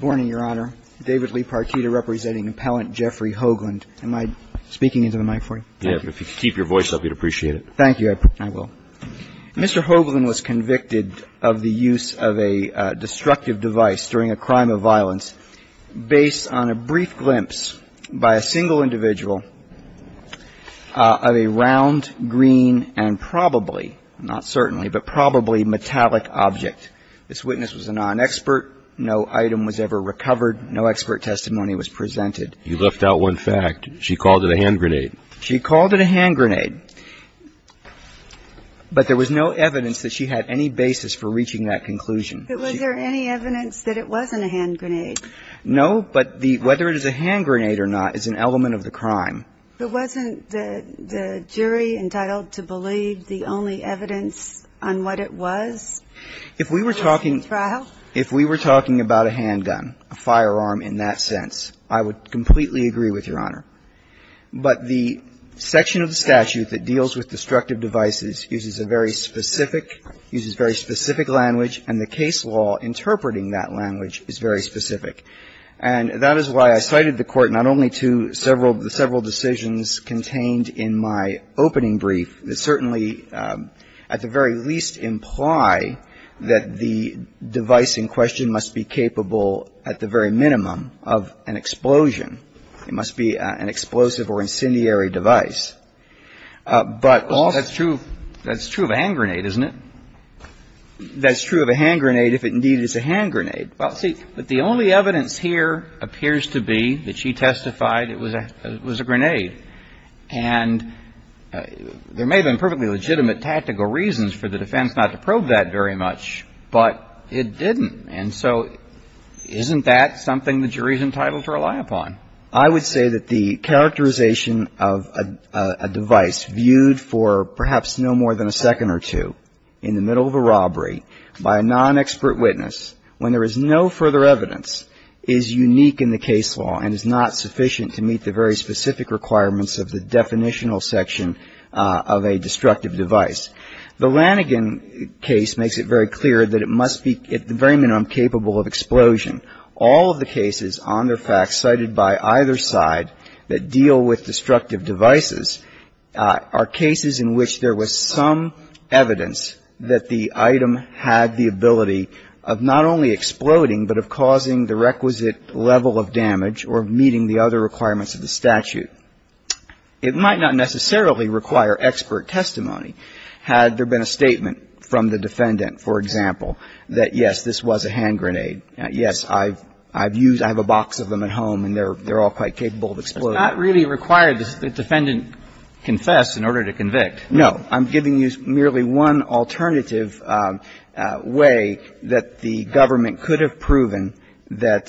Mr. Hoagland was convicted of the use of a destructive device during a crime of violence based on a brief glimpse by a single individual of a round, green, and probably, not certainly, but probably metallic object. This witness was a non-expert. No item was ever recovered. No expert testimony was presented. You left out one fact. She called it a hand grenade. She called it a hand grenade. But there was no evidence that she had any basis for reaching that conclusion. But was there any evidence that it wasn't a hand grenade? No, but whether it is a hand grenade or not is an element of the crime. But wasn't the jury entitled to believe the only evidence on what it was? If we were talking about a handgun, a firearm in that sense, I would completely agree with Your Honor. But the section of the statute that deals with destructive devices uses a very specific uses a very specific language, and the case law interpreting that language is very specific. And that is why I cited the Court not only to several decisions contained in my opening brief that certainly at the very least imply that the device in question must be capable at the very minimum of an explosion. It must be an explosive or incendiary device. But also ---- Well, that's true. That's true of a hand grenade, isn't it? That's true of a hand grenade if, indeed, it's a hand grenade. Well, see, but the only evidence here appears to be that she testified it was a grenade. And there may have been perfectly legitimate tactical reasons for the defense not to probe that very much, but it didn't. And so isn't that something the jury's entitled to rely upon? I would say that the characterization of a device viewed for perhaps no more than a second or two in the middle of a robbery by a non-expert witness when there is no further evidence is unique in the case law and is not sufficient to meet the very specific requirements of the definitional section of a destructive device. The Lanigan case makes it very clear that it must be at the very minimum capable of explosion. All of the cases on their facts cited by either side that deal with destructive devices are cases in which there was some evidence that the item had the ability of not only exploding but of causing the requisite level of damage or meeting the other requirements of the statute. It might not necessarily require expert testimony had there been a statement from the defendant, for example, that, yes, this was a hand grenade, yes, I've used them, I have a box of them at home, and they're all quite capable of exploding. It's not really required that the defendant confess in order to convict. No. I'm giving you merely one alternative way that the government could have proven that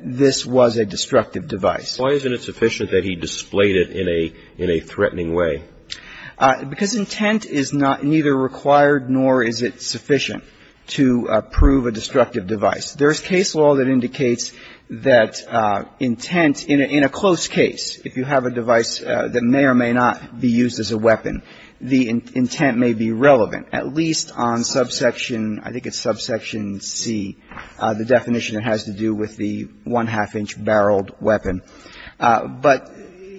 this was a destructive device. Why isn't it sufficient that he displayed it in a threatening way? Because intent is neither required nor is it sufficient to prove a destructive device. There's case law that indicates that intent in a close case, if you have a device that may or may not be used as a weapon, the intent may be relevant, at least on subsection ‑‑ I think it's subsection C, the definition it has to do with the one-half-inch-barreled weapon. But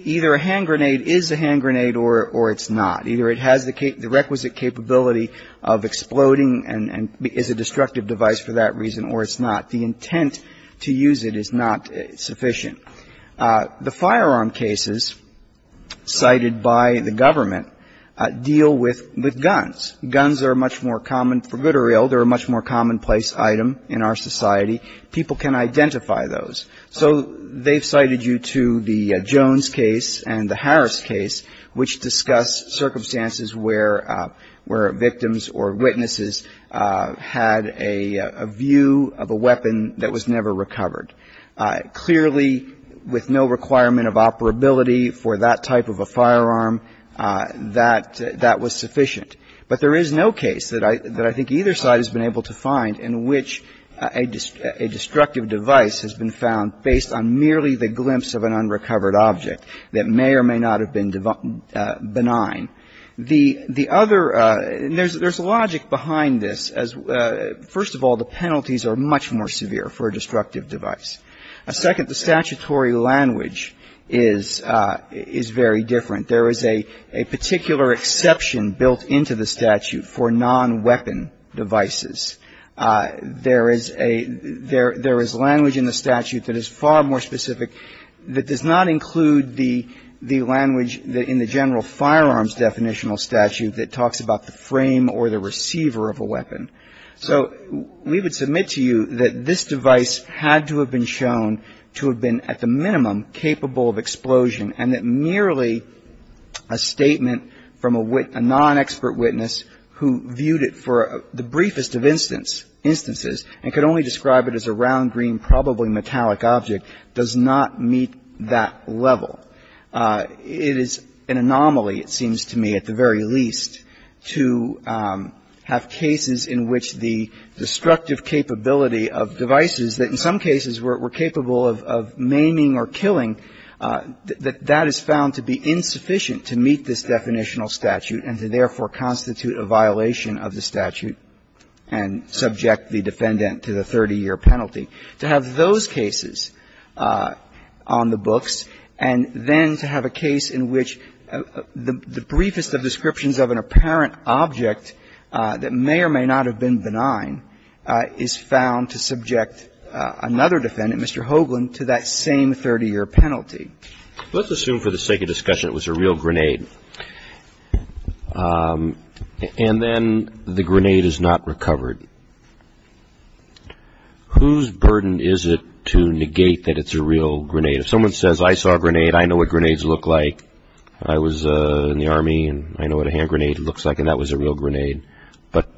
either a hand grenade is a hand grenade or it's not. Either it has the requisite capability of exploding and is a destructive device for that reason or it's not. The intent to use it is not sufficient. The firearm cases cited by the government deal with guns. Guns are much more common for good or ill. They're a much more commonplace item in our society. People can identify those. So they've cited you to the Jones case and the Harris case, which discuss circumstances where victims or witnesses had a view of a weapon that was never recovered. Clearly, with no requirement of operability for that type of a firearm, that was sufficient. But there is no case that I think either side has been able to find in which a destructive device has been found based on merely the glimpse of an unrecovered object that may or may not have been benign. The other – and there's logic behind this. First of all, the penalties are much more severe for a destructive device. Second, the statutory language is very different. There is a particular exception built into the statute for non-weapon devices. There is a – there is language in the statute that is far more specific that does not include the language in the general firearms definitional statute that talks about the frame or the receiver of a weapon. So we would submit to you that this device had to have been shown to have been at the minimum capable of explosion and that merely a statement from a non-expert witness who viewed it for the briefest of instance – instances and could only describe it as a round, green, probably metallic object – does not meet that level. It is an anomaly, it seems to me, at the very least, to have cases in which the destructive capability of devices that, in some cases, were capable of maiming or killing, that that is found to be insufficient to meet this definitional statute and to, therefore, constitute a violation of the statute and subject the defendant to the 30-year penalty, to have those cases on the books and then to have a case in which the briefest of descriptions of an apparent object that may or may not have been benign is found to subject another defendant, Mr. Hoagland, to that same 30-year penalty. Let's assume for the sake of discussion it was a real grenade. And then the grenade is not recovered. Whose burden is it to negate that it's a real grenade? If someone says, I saw a grenade, I know what grenades look like, I was in the Army and I know what a hand grenade looks like and that was a real grenade. But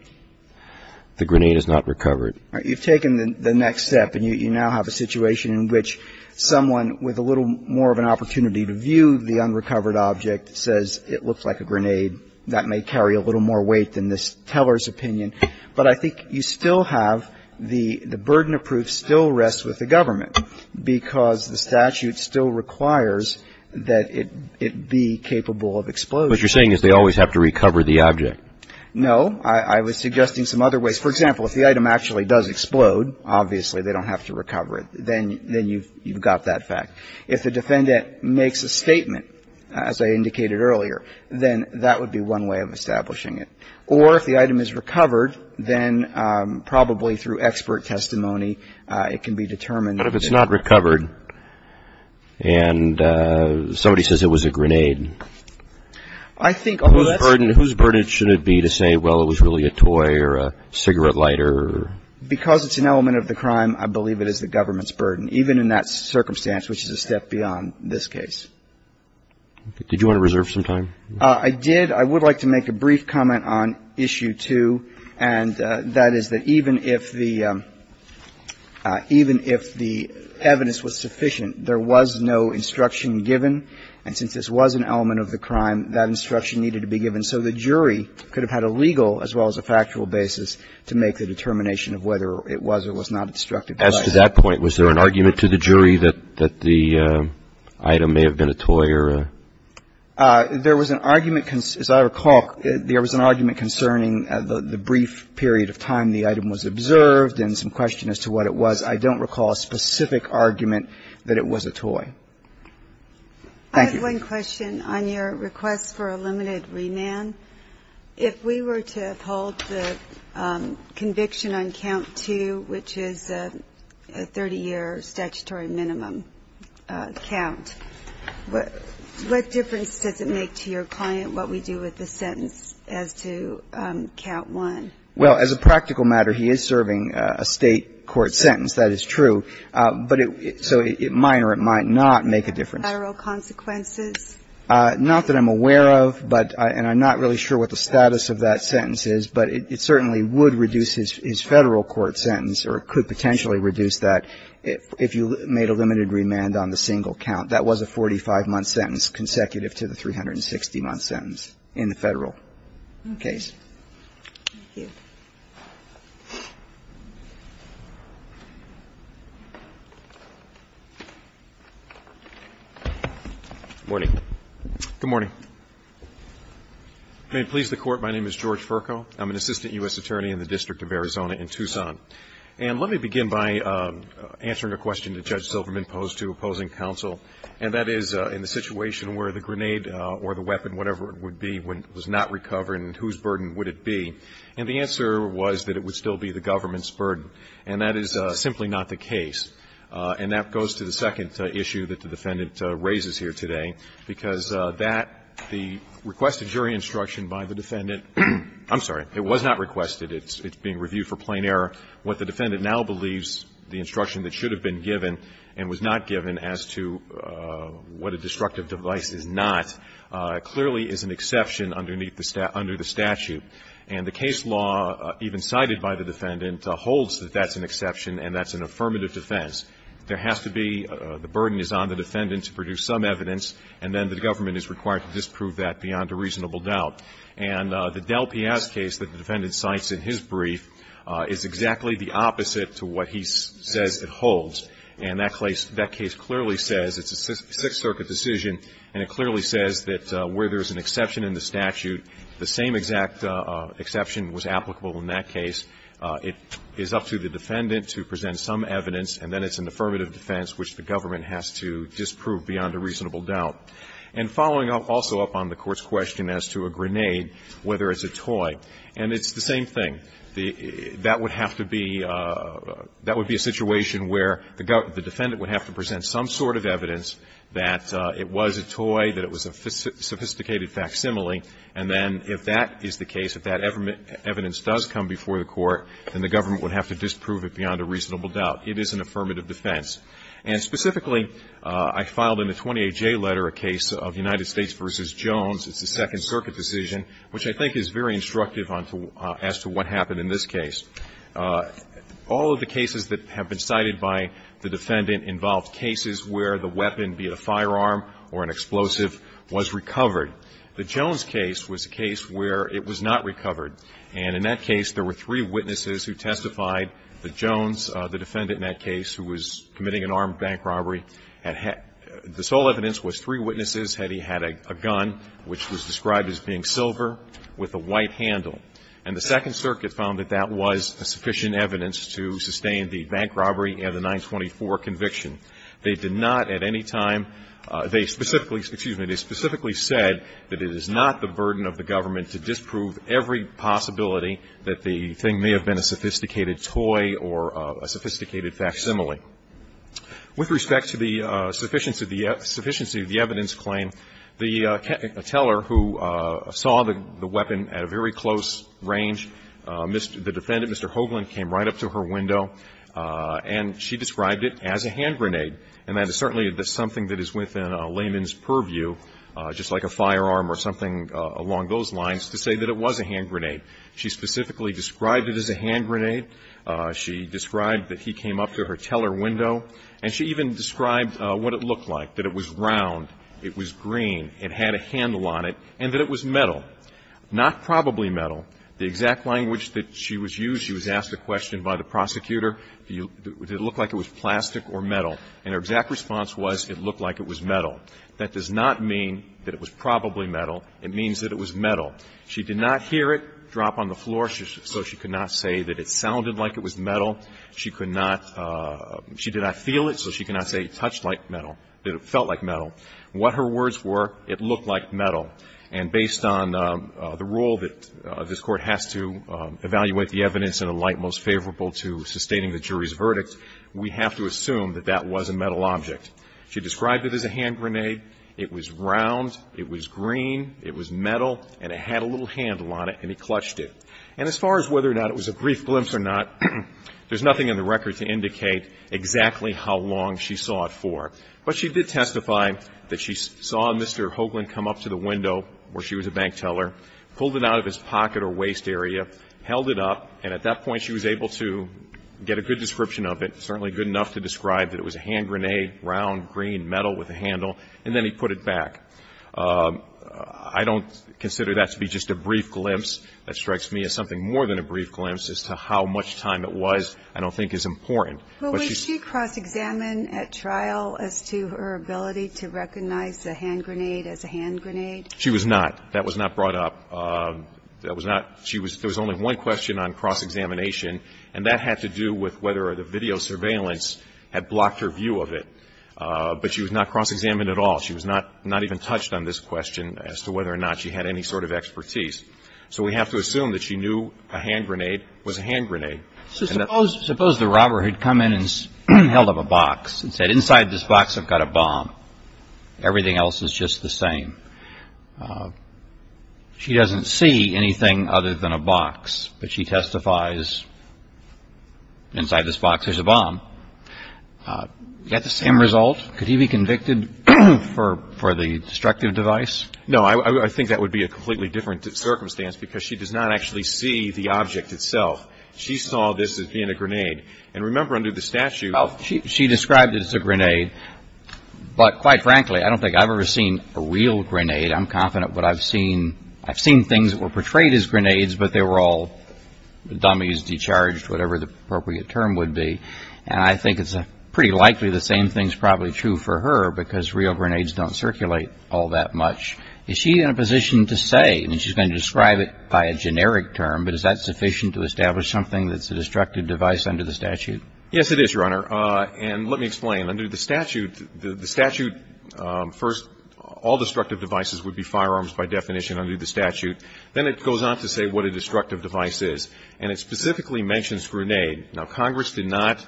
the grenade is not recovered. You've taken the next step and you now have a situation in which someone with a little more of an opportunity to view the unrecovered object says it looks like a grenade. That may carry a little more weight than this teller's opinion. But I think you still have the burden of proof still rests with the government because the statute still requires that it be capable of explosion. What you're saying is they always have to recover the object. No. I was suggesting some other ways. For example, if the item actually does explode, obviously they don't have to recover it. Then you've got that fact. If the defendant makes a statement, as I indicated earlier, then that would be one way of establishing it. Or if the item is recovered, then probably through expert testimony it can be determined. But if it's not recovered and somebody says it was a grenade? Whose burden should it be to say, well, it was really a toy or a cigarette lighter? Because it's an element of the crime, I believe it is the government's burden, even in that circumstance, which is a step beyond this case. Did you want to reserve some time? I did. I would like to make a brief comment on issue two, and that is that even if the evidence was sufficient, there was no instruction given. And since this was an element of the crime, that instruction needed to be given. So the jury could have had a legal as well as a factual basis to make the determination of whether it was or was not a destructive device. As to that point, was there an argument to the jury that the item may have been a toy or a? There was an argument, as I recall, there was an argument concerning the brief period of time the item was observed and some question as to what it was. I don't recall a specific argument that it was a toy. Thank you. I have one question on your request for a limited remand. If we were to uphold the conviction on count two, which is a 30-year statutory minimum count, what difference does it make to your client what we do with the sentence as to count one? Well, as a practical matter, he is serving a State court sentence, that is true. But it so it might or it might not make a difference. Federal consequences? Not that I'm aware of, but and I'm not really sure what the status of that sentence is, but it certainly would reduce his Federal court sentence or it could potentially reduce that if you made a limited remand on the single count. That was a 45-month sentence consecutive to the 360-month sentence in the Federal Thank you. Good morning. Good morning. May it please the Court, my name is George Furco. I'm an assistant U.S. attorney in the District of Arizona in Tucson. And let me begin by answering a question that Judge Silverman posed to opposing counsel, and that is in the situation where the grenade or the weapon, whatever it would be, was not recovered and whose burden would it be. And the answer was that it would still be the government's burden. And that is simply not the case. And that goes to the second issue that the Defendant raises here today, because that, the requested jury instruction by the Defendant, I'm sorry, it was not requested. It's being reviewed for plain error. What the Defendant now believes, the instruction that should have been given and was not given as to what a destructive device is not, clearly is an exception underneath the statute. And the case law even cited by the Defendant holds that that's an exception and that's an affirmative defense. There has to be the burden is on the Defendant to produce some evidence, and then the government is required to disprove that beyond a reasonable doubt. And the Del Piaz case that the Defendant cites in his brief is exactly the opposite to what he says it holds. And that case clearly says it's a Sixth Circuit decision, and it clearly says that where there's an exception in the statute, the same exact exception was applicable in that case. It is up to the Defendant to present some evidence, and then it's an affirmative defense which the government has to disprove beyond a reasonable doubt. And following also up on the Court's question as to a grenade, whether it's a toy. And it's the same thing. That would have to be a situation where the Defendant would have to present some sort of evidence that it was a toy, that it was a sophisticated facsimile, and then if that is the case, if that evidence does come before the Court, then the government would have to disprove it beyond a reasonable doubt. It is an affirmative defense. And specifically, I filed in the 28J letter a case of United States v. Jones. It's a Second Circuit decision, which I think is very instructive as to what happened in this case. All of the cases that have been cited by the Defendant involved cases where the weapon, be it a firearm or an explosive, was recovered. The Jones case was a case where it was not recovered. And in that case, there were three witnesses who testified that Jones, the Defendant in that case, who was committing an armed bank robbery, the sole evidence was three dollars, which was described as being silver, with a white handle. And the Second Circuit found that that was sufficient evidence to sustain the bank robbery and the 924 conviction. They did not at any time, they specifically, excuse me, they specifically said that it is not the burden of the government to disprove every possibility that the thing may have been a sophisticated toy or a sophisticated facsimile. With respect to the sufficiency of the evidence claim, the teller who saw the weapon at a very close range, the Defendant, Mr. Hoagland, came right up to her window and she described it as a hand grenade. And that is certainly something that is within a layman's purview, just like a firearm or something along those lines, to say that it was a hand grenade. She specifically described it as a hand grenade. She described that he came up to her teller window. And she even described what it looked like, that it was round, it was green, it had a handle on it, and that it was metal. Not probably metal. The exact language that she was used, she was asked a question by the prosecutor, did it look like it was plastic or metal? And her exact response was, it looked like it was metal. That does not mean that it was probably metal. It means that it was metal. She did not hear it drop on the floor, so she could not say that it sounded like it was metal. She could not, she did not feel it, so she could not say it touched like metal, that it felt like metal. What her words were, it looked like metal. And based on the rule that this Court has to evaluate the evidence in a light most favorable to sustaining the jury's verdict, we have to assume that that was a metal object. She described it as a hand grenade. It was round. It was green. It was metal, and it had a little handle on it, and he clutched it. And as far as whether or not it was a brief glimpse or not, there's nothing in the record to indicate exactly how long she saw it for. But she did testify that she saw Mr. Hoagland come up to the window where she was a bank teller, pulled it out of his pocket or waist area, held it up, and at that point she was able to get a good description of it, certainly good enough to describe that it was a hand grenade, round, green, metal with a handle, and then he put it back. I don't consider that to be just a brief glimpse. That strikes me as something more than a brief glimpse as to how much time it was I don't think is important. But she's -- Well, was she cross-examined at trial as to her ability to recognize a hand grenade as a hand grenade? She was not. That was not brought up. That was not ñ she was ñ there was only one question on cross-examination, and that had to do with whether or not the video surveillance had blocked her view of it. But she was not cross-examined at all. She was not even touched on this question as to whether or not she had any sort of expertise. So we have to assume that she knew a hand grenade was a hand grenade. Suppose the robber had come in and held up a box and said, inside this box I've got a bomb. Everything else is just the same. She doesn't see anything other than a box, but she testifies, inside this box there's a bomb. You got the same result? Could he be convicted for the destructive device? No. I think that would be a completely different circumstance, because she does not actually see the object itself. She saw this as being a grenade. And remember, under the statute ñ Well, she described it as a grenade, but quite frankly, I don't think I've ever seen a real grenade. I'm confident, but I've seen ñ I've seen things that were portrayed as grenades, but they were all dummies, discharged, whatever the appropriate term would be. And I think it's pretty likely the same thing is probably true for her, because real grenades don't circulate all that much. Is she in a position to say, and she's going to describe it by a generic term, but is that sufficient to establish something that's a destructive device under the statute? Yes, it is, Your Honor. And let me explain. Under the statute, the statute first, all destructive devices would be firearms by definition under the statute. Then it goes on to say what a destructive device is. And it specifically mentions grenade. Now, Congress did not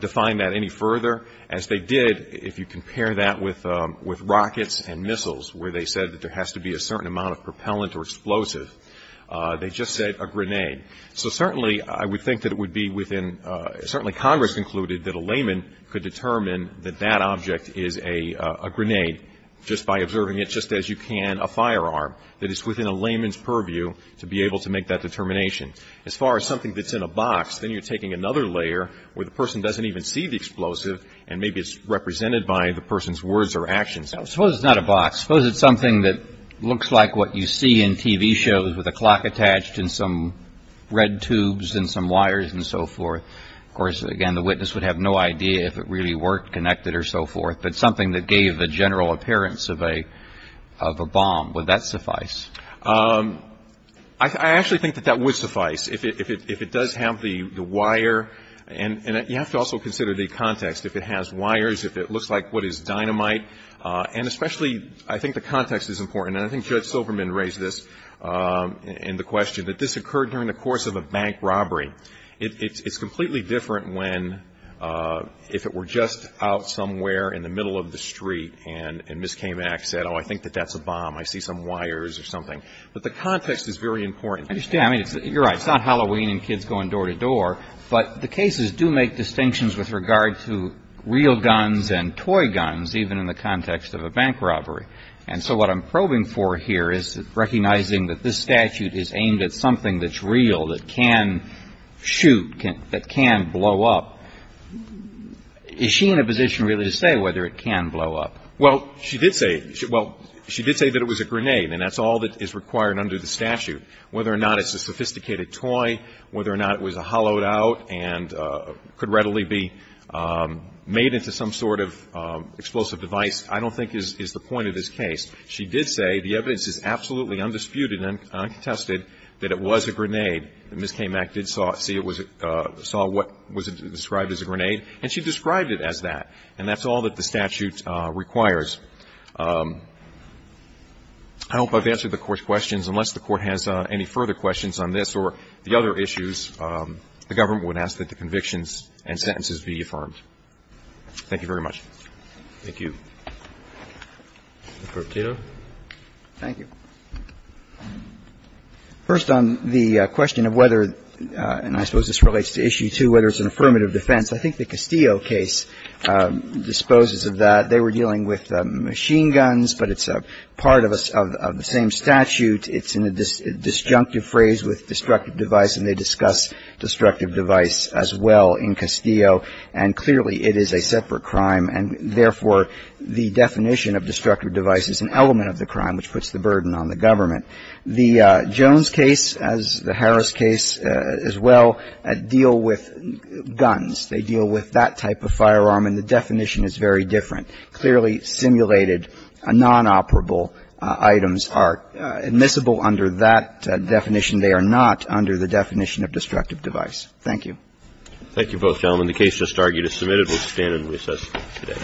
define that any further, as they did if you compare that with rockets and missiles, where they said that there has to be a certain amount of propellant or explosive. They just said a grenade. So certainly, I would think that it would be within ñ certainly Congress concluded that a layman could determine that that object is a grenade just by observing it just as you can a firearm. That it's within a layman's purview to be able to make that determination. As far as something that's in a box, then you're taking another layer where the person doesn't even see the explosive and maybe it's represented by the person's words or actions. Suppose it's not a box. Suppose it's something that looks like what you see in TV shows with a clock attached and some red tubes and some wires and so forth. Of course, again, the witness would have no idea if it really worked, connected or so forth, but something that gave the general appearance of a ñ of a bomb. Would that suffice? I actually think that that would suffice if it does have the wire. And you have to also consider the context. If it has wires, if it looks like what is dynamite. And especially, I think the context is important. And I think Judge Silverman raised this in the question, that this occurred during the course of a bank robbery. It's completely different when if it were just out somewhere in the middle of the street and Ms. Kamak said, oh, I think that that's a bomb. I see some wires or something. But the context is very important. I understand. I mean, you're right. It's not Halloween and kids going door to door, but the cases do make distinctions with regard to real guns and toy guns, even in the context of a bank robbery. And so what I'm probing for here is recognizing that this statute is aimed at something that's real, that can shoot, that can blow up. Is she in a position really to say whether it can blow up? Well, she did say it. Well, she did say that it was a grenade. And that's all that is required under the statute. Whether or not it's a sophisticated toy, whether or not it was a hollowed-out and could readily be made into some sort of explosive device, I don't think is the point of this case. She did say the evidence is absolutely undisputed and uncontested that it was a grenade. Ms. Kamak did see it was a grenade, saw what was described as a grenade, and she described it as that. And that's all that the statute requires. I hope I've answered the Court's questions. Unless the Court has any further questions on this or the other issues, the government would ask that the convictions and sentences be affirmed. Thank you very much. Thank you. Mr. Cato. Thank you. First, on the question of whether, and I suppose this relates to issue two, whether it's an affirmative defense. I think the Castillo case disposes of that. They were dealing with machine guns, but it's part of the same statute. It's in a disjunctive phrase with destructive device, and they discuss destructive device as well in Castillo. And clearly, it is a separate crime, and therefore, the definition of destructive device is an element of the crime, which puts the burden on the government. The Jones case, as the Harris case as well, deal with guns. They deal with that type of firearm, and the definition is very different. Clearly, simulated, nonoperable items are admissible under that definition. They are not under the definition of destructive device. Thank you. Thank you, both gentlemen. The case just argued is submitted. We'll stand and recess today. All rise. The court is adjourned. The court is adjourned.